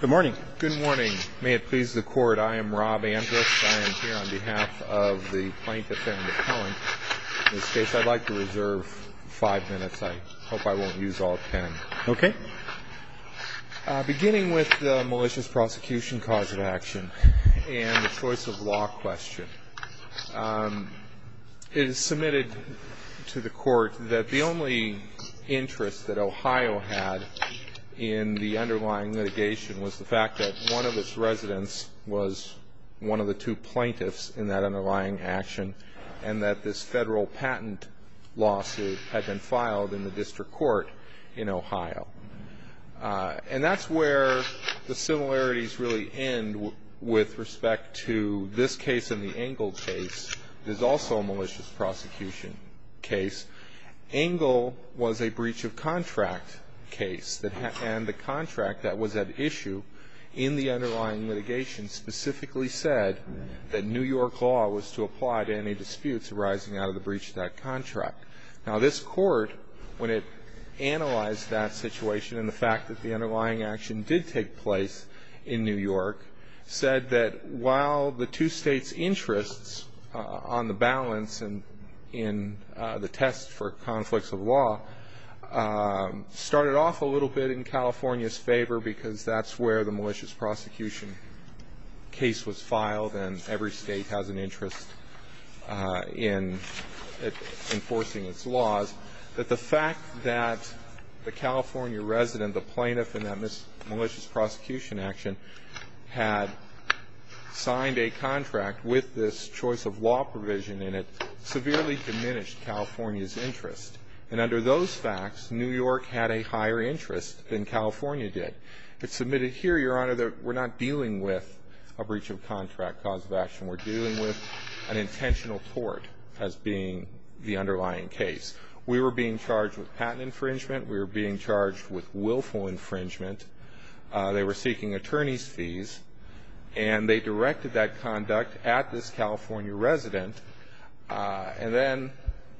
Good morning. May it please the Court, I am Rob Andrus. I am here on behalf of the Plaintiff and the Appellant. In this case, I'd like to reserve five minutes. I hope I won't use all ten. Okay. Beginning with the malicious prosecution cause of action and the choice of law question, it is submitted to the Court that the only interest that Ohio had in the underlying litigation was the fact that one of its residents was one of the two plaintiffs in that underlying action and that this federal patent lawsuit had been filed in the district court in Ohio. And that's where the similarities really end with respect to this case and the Engle case, which is also a malicious prosecution case. Engle was a breach of contract case, and the contract that was at issue in the underlying litigation specifically said that New York law was to apply to any disputes arising out of the breach of that contract. Now, this Court, when it analyzed that situation and the fact that the underlying action did take place in New York, said that while the two states' interests on the balance in the test for conflicts of law started off a little bit in California's favor because that's where the malicious prosecution case was filed and every state has an interest in enforcing its laws, that the fact that the California resident, the plaintiff in that malicious prosecution action, had signed a contract with this choice of law provision in it severely diminished California's interest. And under those facts, New York had a higher interest than California did. It's submitted here, Your Honor, that we're not dealing with a breach of contract cause of action. We're dealing with an intentional tort as being the underlying case. We were being charged with patent infringement. We were being charged with willful infringement. They were seeking attorney's fees, and they directed that conduct at this California resident. And then,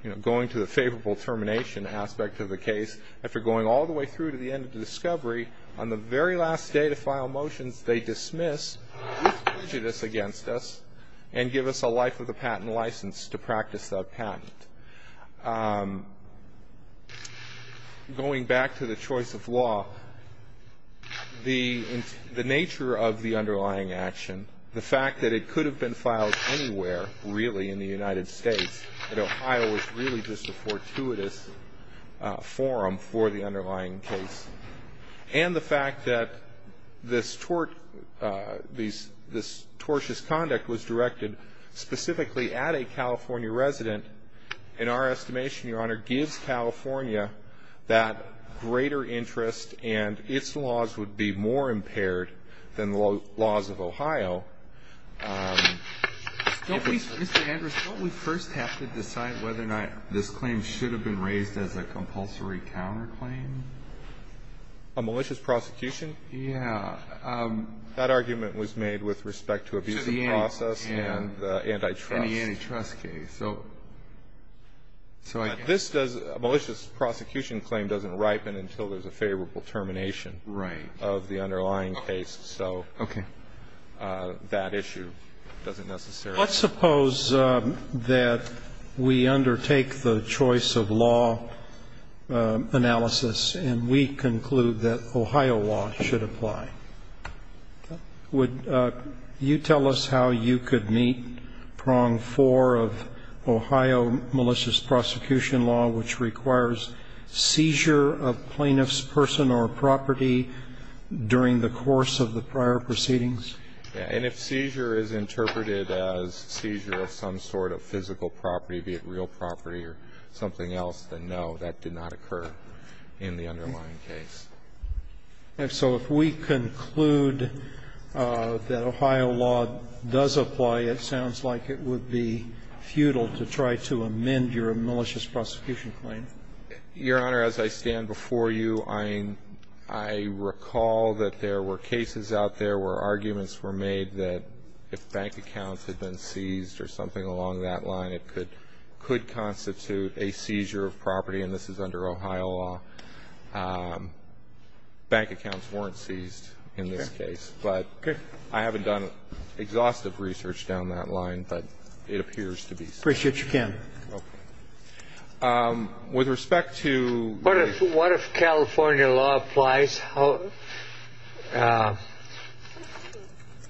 you know, going to the favorable termination aspect of the case, after going all the way through to the end of the discovery, on the very last day to file motions, they dismiss this prejudice against us and give us a life with a patent license to practice that patent. Going back to the choice of law, the nature of the underlying action, the fact that it could have been filed anywhere, really, in the United States, that Ohio was really just a fortuitous forum for the underlying case, and the fact that this tort, this tortious conduct was directed specifically at a California resident, in our estimation, Your Honor, gives California that greater interest and its laws would be more impaired than the laws of Ohio. Mr. Andrews, don't we first have to decide whether or not this claim should have been raised as a compulsory counterclaim? A malicious prosecution? Yeah. That argument was made with respect to abuse of process and antitrust. And the antitrust case. So I guess. A malicious prosecution claim doesn't ripen until there's a favorable termination of the underlying case. Right. Okay. That issue doesn't necessarily. Let's suppose that we undertake the choice of law analysis and we conclude that Ohio law should apply. Okay. Would you tell us how you could meet prong four of Ohio malicious prosecution law, which requires seizure of plaintiff's person or property during the course of the prior proceedings? Yeah. And if seizure is interpreted as seizure of some sort of physical property, be it real property or something else, then no, that did not occur in the underlying case. Okay. So if we conclude that Ohio law does apply, it sounds like it would be futile to try to amend your malicious prosecution claim. Your Honor, as I stand before you, I recall that there were cases out there where arguments were made that if bank accounts had been seized or something along that line, it could constitute a seizure of property, and this is under Ohio law. Bank accounts weren't seized in this case. Okay. But I haven't done exhaustive research down that line, but it appears to be so. Appreciate your time. Okay. With respect to. What if California law applies?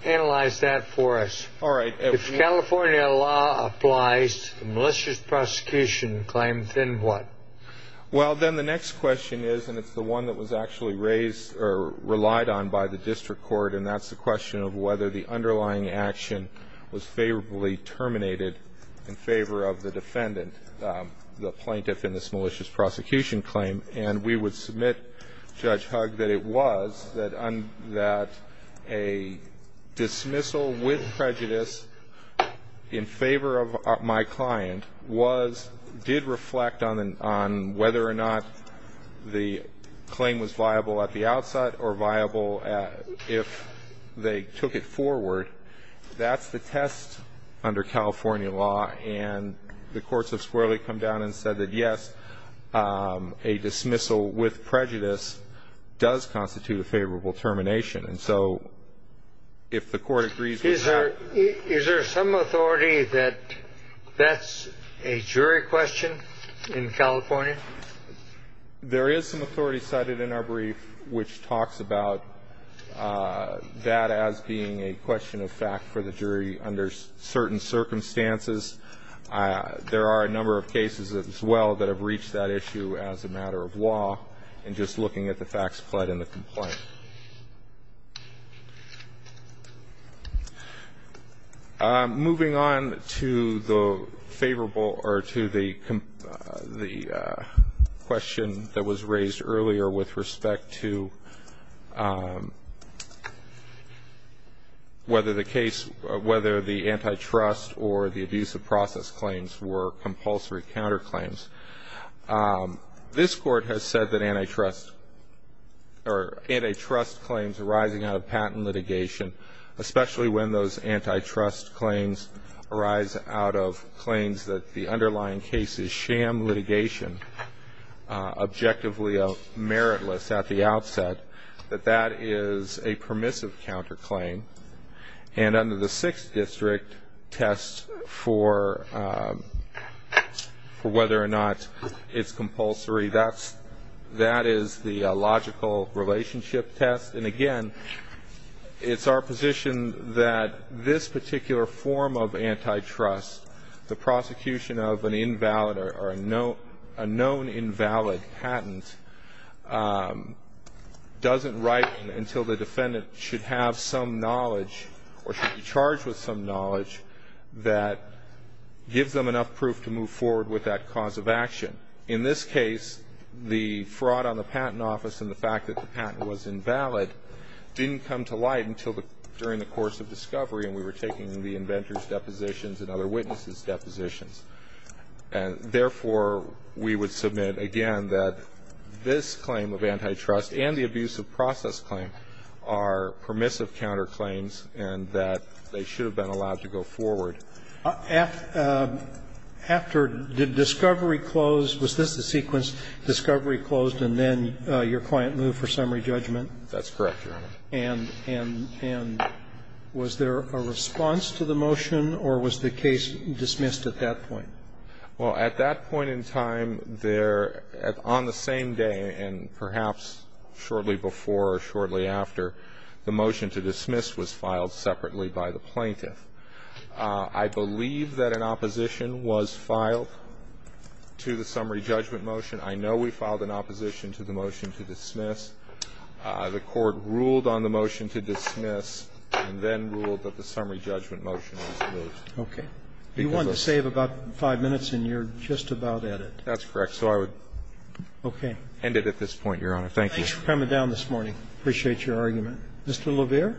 Analyze that for us. All right. If California law applies, malicious prosecution claim, then what? Well, then the next question is, and it's the one that was actually raised or relied on by the district court, and that's the question of whether the underlying action was favorably terminated in favor of the defendant, the plaintiff in this malicious prosecution claim. And we would submit, Judge Hugg, that it was, that a dismissal with prejudice in favor of my client was, did reflect on whether or not the claim was viable at the if they took it forward. That's the test under California law, and the courts of squarely come down and said that, yes, a dismissal with prejudice does constitute a favorable termination. And so if the court agrees with that. Is there some authority that that's a jury question in California? There is some authority cited in our brief, which talks about that as being a question of fact for the jury under certain circumstances. There are a number of cases as well that have reached that issue as a matter of law and just looking at the facts pled in the complaint. Moving on to the favorable or to the. The question that was raised earlier with respect to whether the case, whether the antitrust or the abuse of process claims were compulsory counterclaims. This court has said that antitrust or antitrust claims arising out of patent litigation, especially when those antitrust claims arise out of claims that the underlying case is sham litigation, objectively meritless at the outset, that that is a permissive counterclaim. And under the Sixth District test for whether or not it's compulsory, that is the logical relationship test. And, again, it's our position that this particular form of antitrust, the prosecution of an invalid or a known invalid patent, doesn't write until the defendant should have some knowledge or should be charged with some knowledge that gives them enough proof to move forward with that cause of action. In this case, the fraud on the patent office and the fact that the patent was invalid didn't come to light until during the course of discovery, and we were taking the inventor's depositions and other witnesses' depositions. And, therefore, we would submit, again, that this claim of antitrust and the abuse of process claim are permissive counterclaims and that they should have been allowed to go forward. After discovery closed, was this the sequence, discovery closed and then your client moved for summary judgment? That's correct, Your Honor. And was there a response to the motion or was the case dismissed at that point? Well, at that point in time, there, on the same day and perhaps shortly before or shortly after, the motion to dismiss was filed separately by the plaintiff. I believe that an opposition was filed to the summary judgment motion. I know we filed an opposition to the motion to dismiss. The Court ruled on the motion to dismiss and then ruled that the summary judgment motion was moved. Okay. You wanted to save about five minutes and you're just about at it. That's correct. So I would end it at this point, Your Honor. Thank you. Thanks for coming down this morning. I appreciate your argument. Mr. LeVere? Yes, Your Honor.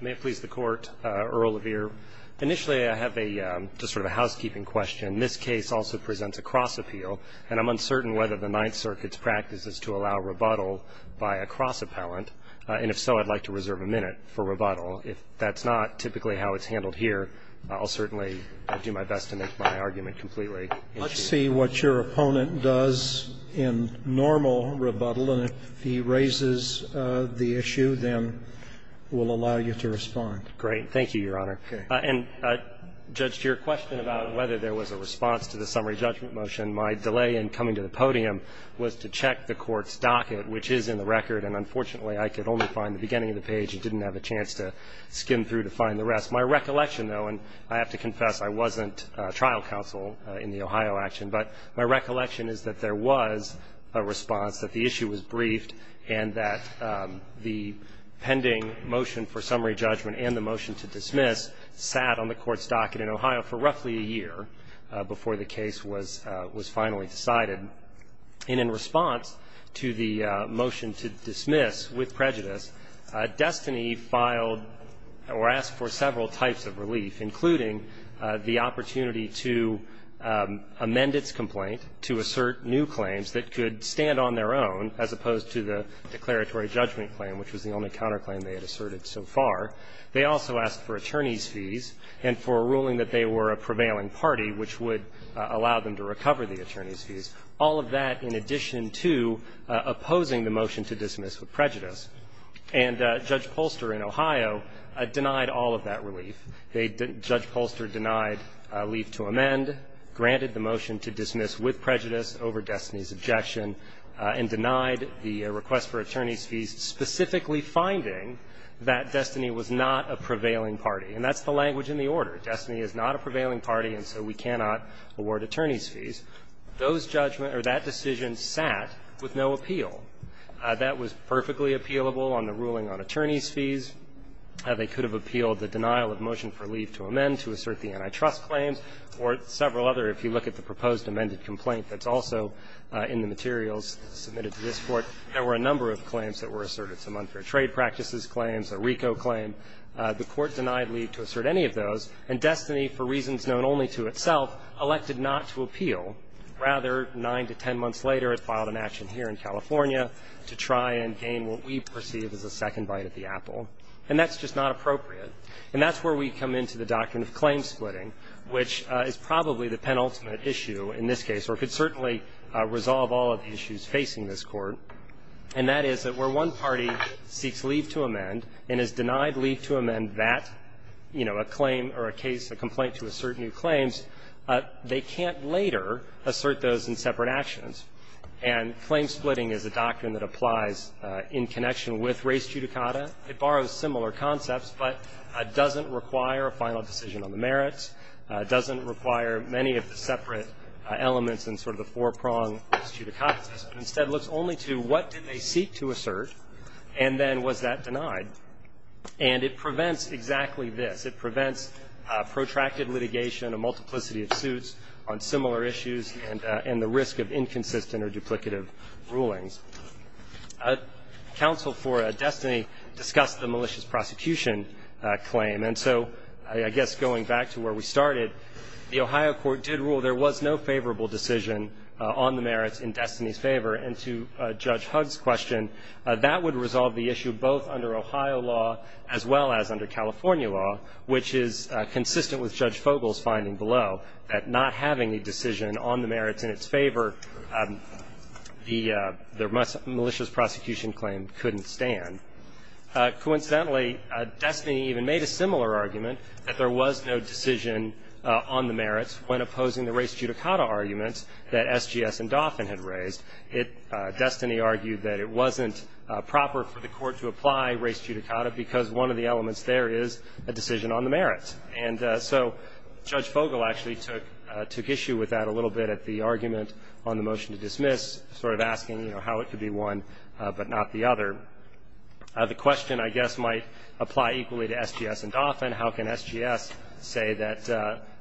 May it please the Court. Earl LeVere. Initially, I have a, just sort of a housekeeping question. This case also presents a cross-appeal, and I'm uncertain whether the Ninth Circuit's practice is to allow rebuttal by a cross-appellant. And if so, I'd like to reserve a minute for rebuttal. If that's not typically how it's handled here, I'll certainly do my best to make my argument completely. Let's see what your opponent does in normal rebuttal, and if he raises the issue, then we'll allow you to respond. Great. Thank you, Your Honor. Okay. And, Judge, to your question about whether there was a response to the summary judgment motion, my delay in coming to the podium was to check the Court's docket, which is in the record, and unfortunately, I could only find the beginning of the page and didn't have a chance to skim through to find the rest. My recollection, though, and I have to confess, I wasn't trial counsel in the Ohio action, but my recollection is that there was a response, that the issue was briefed and that the pending motion for summary judgment and the motion to dismiss sat on the Court's docket in Ohio for roughly a year before the case was finally decided. And in response to the motion to dismiss with prejudice, Destiny filed or asked for several types of relief, including the opportunity to amend its complaint, to assert new claims that could stand on their own, as opposed to the declaratory judgment claim, which was the only counterclaim they had asserted so far. They also asked for attorneys' fees and for a ruling that they were a prevailing party, which would allow them to recover the attorneys' fees, all of that in addition to opposing the motion to dismiss with prejudice. And Judge Polster in Ohio denied all of that relief. Judge Polster denied leave to amend, granted the motion to dismiss with prejudice over Destiny's objection, and denied the request for attorneys' fees, specifically finding that Destiny was not a prevailing party. And that's the language in the order. Destiny is not a prevailing party, and so we cannot award attorneys' fees. Those judgments or that decision sat with no appeal. That was perfectly appealable on the ruling on attorneys' fees. They could have appealed the denial of motion for leave to amend to assert the antitrust claims or several other. If you look at the proposed amended complaint that's also in the materials submitted to this Court, there were a number of claims that were asserted, some unfair trade practices claims, a RICO claim. The Court denied leave to assert any of those, and Destiny, for reasons known only to itself, elected not to appeal. Rather, nine to ten months later, it filed an action here in California to try and gain what we perceive as a second bite at the apple. And that's just not appropriate. And that's where we come into the doctrine of claim splitting, which is probably the penultimate issue in this case or could certainly resolve all of the issues facing this Court, and that is that where one party seeks leave to amend and is denied leave to amend that, you know, a claim or a case, a complaint to assert new claims, they can't later assert those in separate actions. And claim splitting is a doctrine that applies in connection with race judicata. It borrows similar concepts, but doesn't require a final decision on the merits, doesn't require many of the separate elements in sort of the four-pronged judicata system. Instead, it looks only to what did they seek to assert, and then was that denied. And it prevents exactly this. It prevents protracted litigation, a multiplicity of suits on similar issues, and the risk of inconsistent or duplicative rulings. Counsel for Destiny discussed the malicious prosecution claim. And so I guess going back to where we started, the Ohio court did rule there was no favorable decision on the merits in Destiny's favor. And to Judge Hugg's question, that would resolve the issue both under Ohio law as well as under California law, which is consistent with Judge Fogel's finding below that not having a decision on the merits in its favor, the malicious prosecution claim couldn't stand. Coincidentally, Destiny even made a similar argument that there was no decision on the merits when opposing the race judicata arguments that SGS and Dauphin had raised. Destiny argued that it wasn't proper for the court to apply race judicata because one of the elements there is a decision on the merits. And so Judge Fogel actually took issue with that a little bit at the argument on the motion to dismiss, sort of asking, you know, how it could be one but not the other. The question, I guess, might apply equally to SGS and Dauphin. How can SGS say that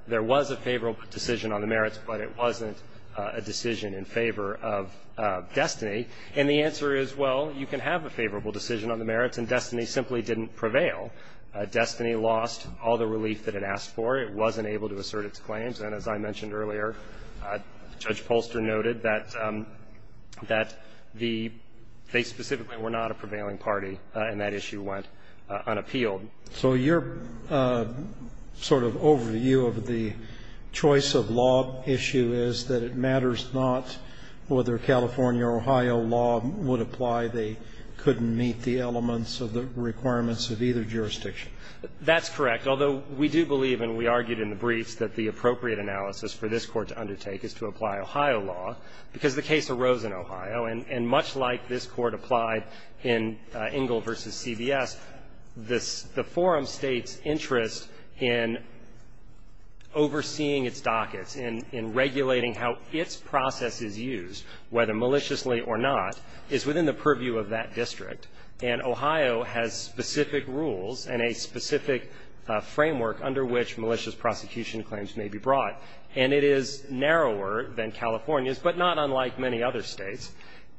there was a favorable decision on the merits, but it wasn't a favorable decision on the merits? And the answer is, well, you can have a favorable decision on the merits, and Destiny simply didn't prevail. Destiny lost all the relief that it asked for. It wasn't able to assert its claims. And as I mentioned earlier, Judge Polster noted that the – they specifically were not a prevailing party, and that issue went unappealed. So your sort of overview of the choice of law issue is that it matters not whether California or Ohio law would apply. They couldn't meet the elements of the requirements of either jurisdiction. That's correct, although we do believe, and we argued in the briefs, that the appropriate analysis for this Court to undertake is to apply Ohio law, because the case arose in Ohio, and much like this Court applied in Ingle v. CBS, the forum state's interest in overseeing its dockets, in regulating how its process is used, whether maliciously or not, is within the purview of that district. And Ohio has specific rules and a specific framework under which malicious prosecution claims may be brought. And it is narrower than California's, but not unlike many other states.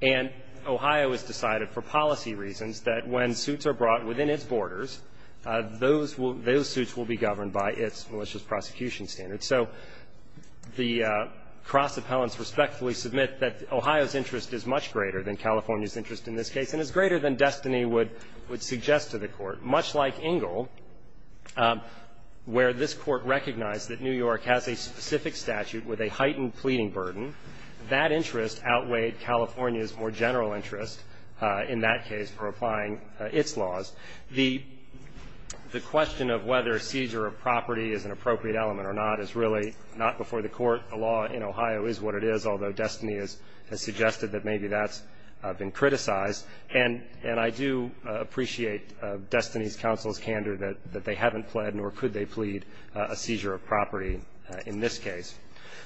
And Ohio has decided for policy reasons that when suits are brought within its borders, those will – those suits will be governed by its malicious prosecution standards. So the cross-appellants respectfully submit that Ohio's interest is much greater than California's interest in this case, and is greater than Destiny would suggest to the Court, much like Ingle, where this Court recognized that New York has a specific statute with a heightened pleading burden. That interest outweighed California's more general interest in that case for applying its laws. The question of whether seizure of property is an appropriate element or not is really not before the Court. The law in Ohio is what it is, although Destiny has suggested that maybe that's been criticized. And I do appreciate Destiny's counsel's candor that they haven't pled, nor could they plead a seizure of property in this case.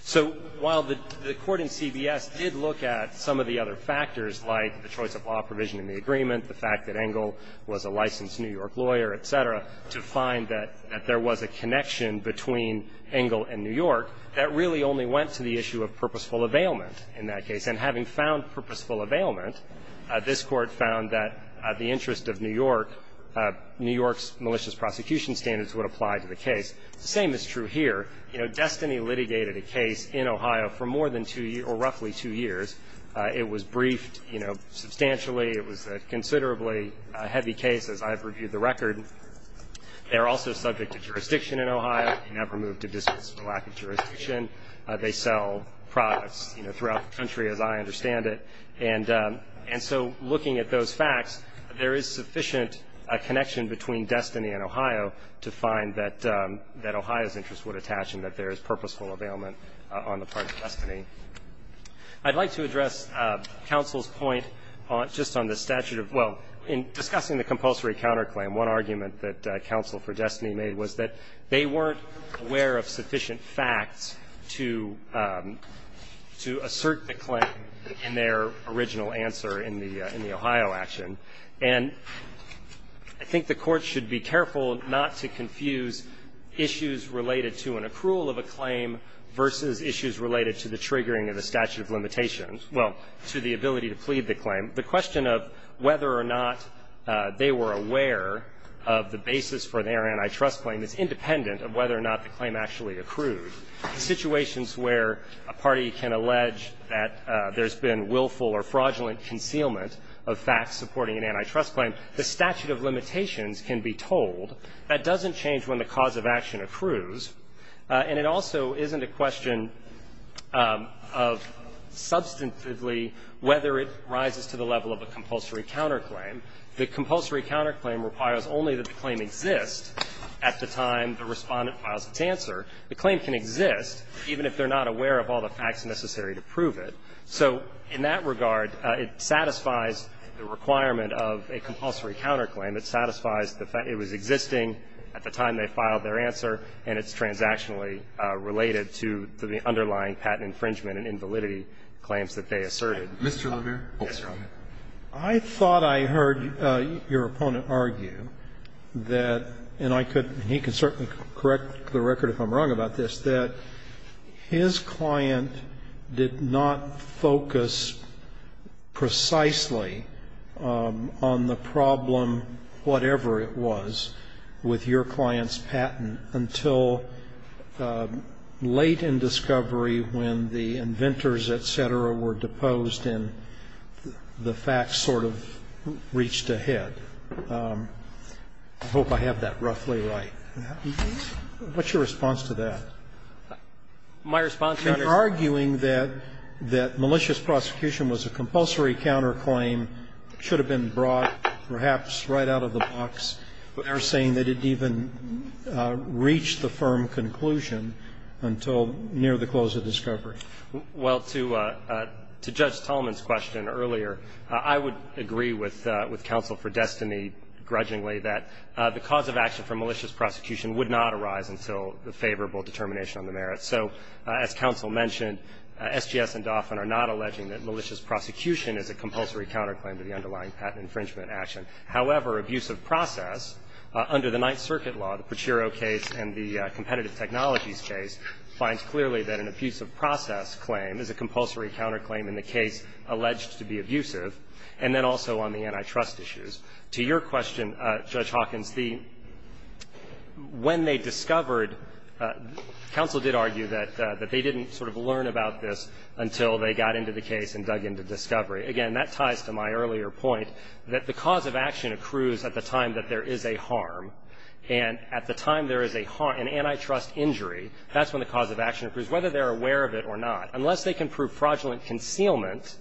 So while the Court in CBS did look at some of the other factors, like the choice of law provision in the agreement, the fact that Ingle was a licensed New York lawyer, et cetera, to find that there was a connection between Ingle and New York, that really only went to the issue of purposeful availment in that case. And having found purposeful availment, this Court found that the interest of New York, New York's malicious prosecution standards would apply to the case. The same is true here. You know, Destiny litigated a case in Ohio for more than two years, or roughly two years. It was briefed, you know, substantially. It was a considerably heavy case, as I've reviewed the record. They're also subject to jurisdiction in Ohio, and have removed a dismissal for lack of jurisdiction. They sell products, you know, throughout the country, as I understand it. And so looking at those facts, there is sufficient connection between Destiny and Ohio to find that Ohio's interest would attach and that there is purposeful availment on the part of Destiny. I'd like to address counsel's point just on the statute of – well, in discussing the compulsory counterclaim, one argument that counsel for Destiny made was that they weren't aware of sufficient facts to – to assert the claim in their original answer in the – in the Ohio action. And I think the Court should be careful not to confuse issues related to an accrual of a claim versus issues related to the triggering of the statute of limitations – well, to the ability to plead the claim. The question of whether or not they were aware of the basis for their antitrust claim is independent of whether or not the claim actually accrued. In situations where a party can allege that there's been willful or fraudulent concealment of facts supporting an antitrust claim, the statute of limitations can be told. That doesn't change when the cause of action accrues. And it also isn't a question of substantively whether it rises to the level of a compulsory counterclaim. The compulsory counterclaim requires only that the claim exists at the time the Respondent files its answer. The claim can exist even if they're not aware of all the facts necessary to prove it. So in that regard, it satisfies the requirement of a compulsory counterclaim. It satisfies the fact it was existing at the time they filed their answer, and it's transactionally related to the underlying patent infringement and invalidity claims that they asserted. Mr. Levere? Yes, Your Honor. I thought I heard your opponent argue that, and he can certainly correct the record if I'm wrong about this, that his client did not focus precisely on the problem, whatever it was, with your client's patent until late in discovery when the inventors, et cetera, were deposed and the facts sort of reached ahead. I hope I have that roughly right. What's your response to that? My response, Your Honor to that? You're arguing that malicious prosecution was a compulsory counterclaim, should have been brought perhaps right out of the box. You're saying they didn't even reach the firm conclusion until near the close of discovery. Well, to Judge Tallman's question earlier, I would agree with Counsel for Destiny grudgingly that the cause of action for malicious prosecution would not arise until the favorable determination on the merits. So as Counsel mentioned, SGS and Dauphin are not alleging that malicious prosecution is a compulsory counterclaim to the underlying patent infringement action. However, abusive process under the Ninth Circuit law, the Pruchero case and the competitive technologies case, finds clearly that an abusive process claim is a compulsory counterclaim in the case alleged to be abusive, and then also on the antitrust issues. To your question, Judge Hawkins, when they discovered, Counsel did argue that they didn't sort of learn about this until they got into the case and dug into discovery. Again, that ties to my earlier point that the cause of action accrues at the time that there is a harm. And at the time there is a harm, an antitrust injury, that's when the cause of action accrues, whether they're aware of it or not. Unless they can prove fraudulent concealment,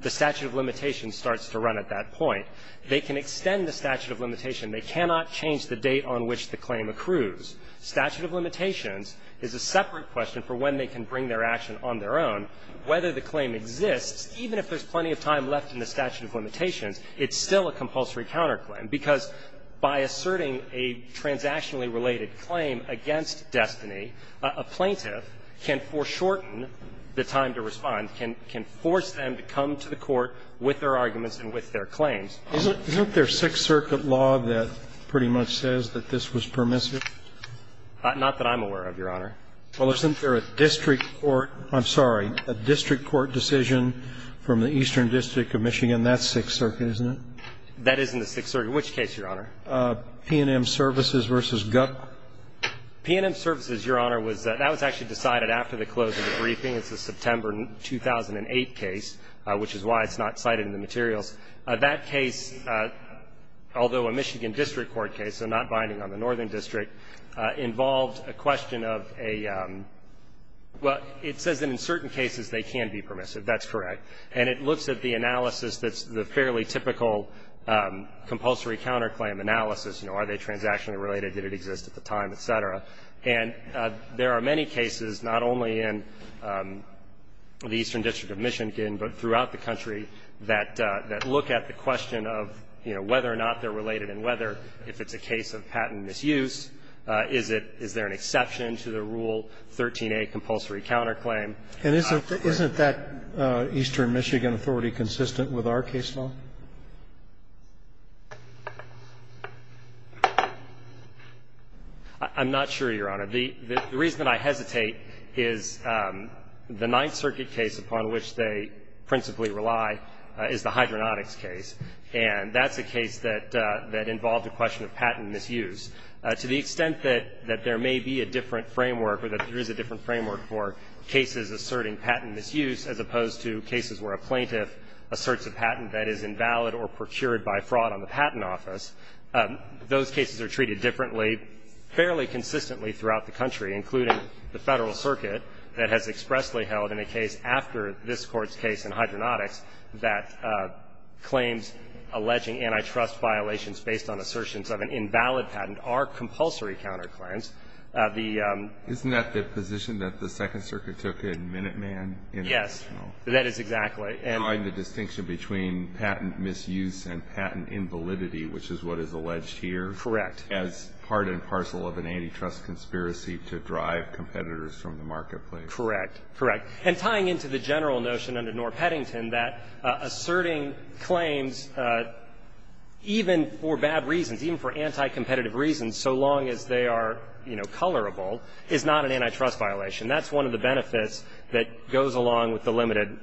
the statute of limitations starts to run at that point. They can extend the statute of limitation. They cannot change the date on which the claim accrues. Statute of limitations is a separate question for when they can bring their action on their own. Whether the claim exists, even if there's plenty of time left in the statute of limitations, it's still a compulsory counterclaim. Because by asserting a transactionally related claim against Destiny, a plaintiff can foreshorten the time to respond, can force them to come to the court with their arguments and with their claims. Isn't there a Sixth Circuit law that pretty much says that this was permissive? Not that I'm aware of, Your Honor. Well, isn't there a district court or, I'm sorry, a district court decision from the Eastern District of Michigan? That's Sixth Circuit, isn't it? That is in the Sixth Circuit. Which case, Your Honor? P&M Services v. Gup. P&M Services, Your Honor, that was actually decided after the close of the briefing. It's a September 2008 case, which is why it's not cited in the materials. That case, although a Michigan district court case, so not binding on the Northern District, involved a question of a – well, it says that in certain cases they can be permissive. That's correct. And it looks at the analysis that's the fairly typical compulsory counterclaim analysis, you know, are they transactionally related, did it exist at the time, et cetera. And there are many cases, not only in the Eastern District of Michigan, but throughout the country, that look at the question of, you know, whether or not they're related and whether, if it's a case of patent misuse, is it – is there an exception to the Rule 13a compulsory counterclaim? And isn't that Eastern Michigan authority consistent with our case law? I'm not sure, Your Honor. The reason that I hesitate is the Ninth Circuit case upon which they principally rely is the hydronautics case. And that's a case that involved a question of patent misuse. To the extent that there may be a different framework or that there is a different framework for cases asserting patent misuse as opposed to cases where a plaintiff asserts a patent that is invalid or procured by fraud on the patent office, those cases are treated differently fairly consistently throughout the country, including the Federal Circuit that has expressly held in a case after this Court's case in hydronautics that claims alleging antitrust violations based on assertions of an invalid patent are compulsory counterclaims. Isn't that the position that the Second Circuit took in Minuteman? Yes. That is exactly. And the distinction between patent misuse and patent invalidity, which is what is alleged here. Correct. As part and parcel of an antitrust conspiracy to drive competitors from the marketplace. Correct. Correct. And tying into the general notion under Norr Peddington that asserting claims even for bad reasons, even for anti-competitive reasons, so long as they are, you know, tolerable, is not an antitrust violation. That's one of the benefits that goes along with the limited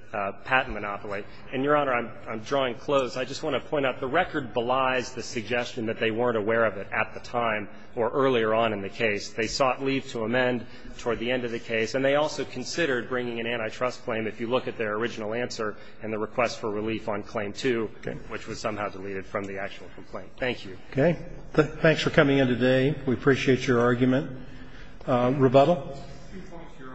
patent monopoly. And, Your Honor, I'm drawing close. I just want to point out the record belies the suggestion that they weren't aware of it at the time or earlier on in the case. They sought leave to amend toward the end of the case, and they also considered bringing an antitrust claim if you look at their original answer and the request for relief on Claim 2, which was somehow deleted from the actual complaint. Thank you. Okay. Thanks for coming in today. We appreciate your argument. Rebuttal. Two points, Your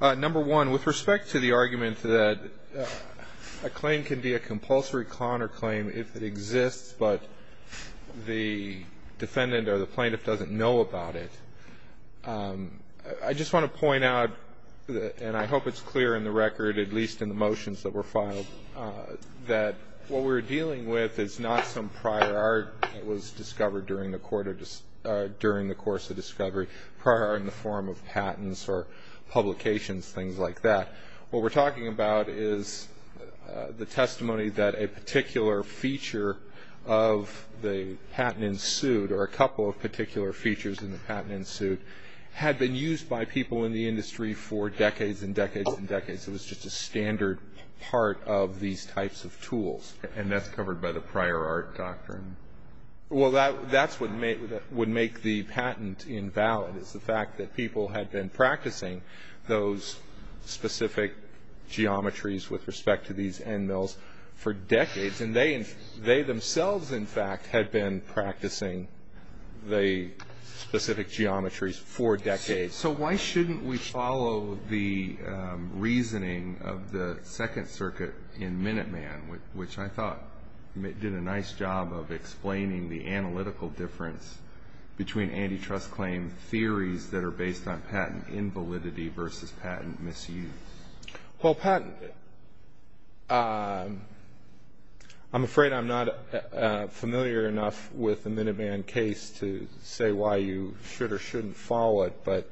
Honor. Number one, with respect to the argument that a claim can be a compulsory con or claim if it exists, but the defendant or the plaintiff doesn't know about it, I just want to point out, and I hope it's clear in the record, at least in the prior art that was discovered during the course of discovery, prior art in the form of patents or publications, things like that. What we're talking about is the testimony that a particular feature of the patent ensued or a couple of particular features in the patent ensued had been used by people in the industry for decades and decades and decades. And that's covered by the prior art doctrine? Well, that's what would make the patent invalid is the fact that people had been practicing those specific geometries with respect to these end mills for decades, and they themselves, in fact, had been practicing the specific geometries for decades. So why shouldn't we follow the reasoning of the Second Circuit in Minuteman, which I thought did a nice job of explaining the analytical difference between antitrust claim theories that are based on patent invalidity versus patent misuse? Well, patent, I'm afraid I'm not familiar enough with the Minuteman case to say why you should or shouldn't follow it, but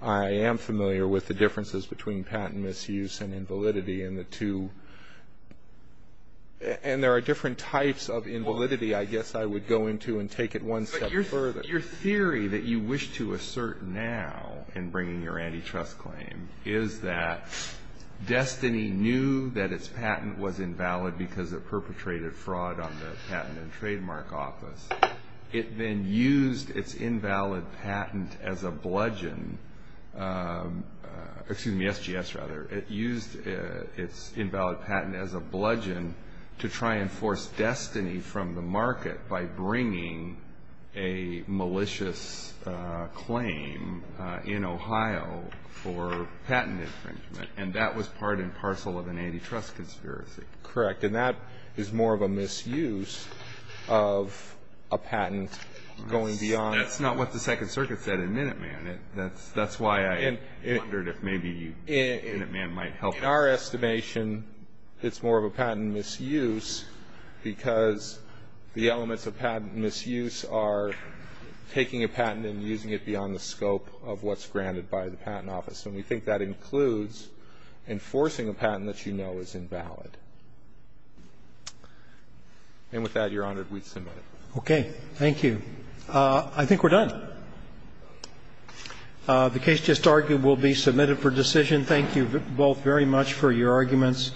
I am familiar with the differences between patent misuse and invalidity in the two. And there are different types of invalidity I guess I would go into and take it one step further. But your theory that you wish to assert now in bringing your antitrust claim is that Destiny knew that its patent was invalid because it perpetrated fraud on the Patent and Trademark Office. It then used its invalid patent as a bludgeon, excuse me, SGS rather, it used its invalid patent as a bludgeon to try and force Destiny from the market by bringing a malicious claim in Ohio for patent infringement, and that was part and parcel of an antitrust conspiracy. Correct. And that is more of a misuse of a patent going beyond. That's not what the Second Circuit said in Minuteman. That's why I wondered if maybe Minuteman might help. In our estimation, it's more of a patent misuse because the elements of patent misuse are taking a patent and using it beyond the scope of what's granted by the Patent Office. And we think that includes enforcing a patent that you know is invalid. And with that, Your Honor, we submit it. Okay. Thank you. I think we're done. The case just argued will be submitted for decision. Thank you both very much for your arguments.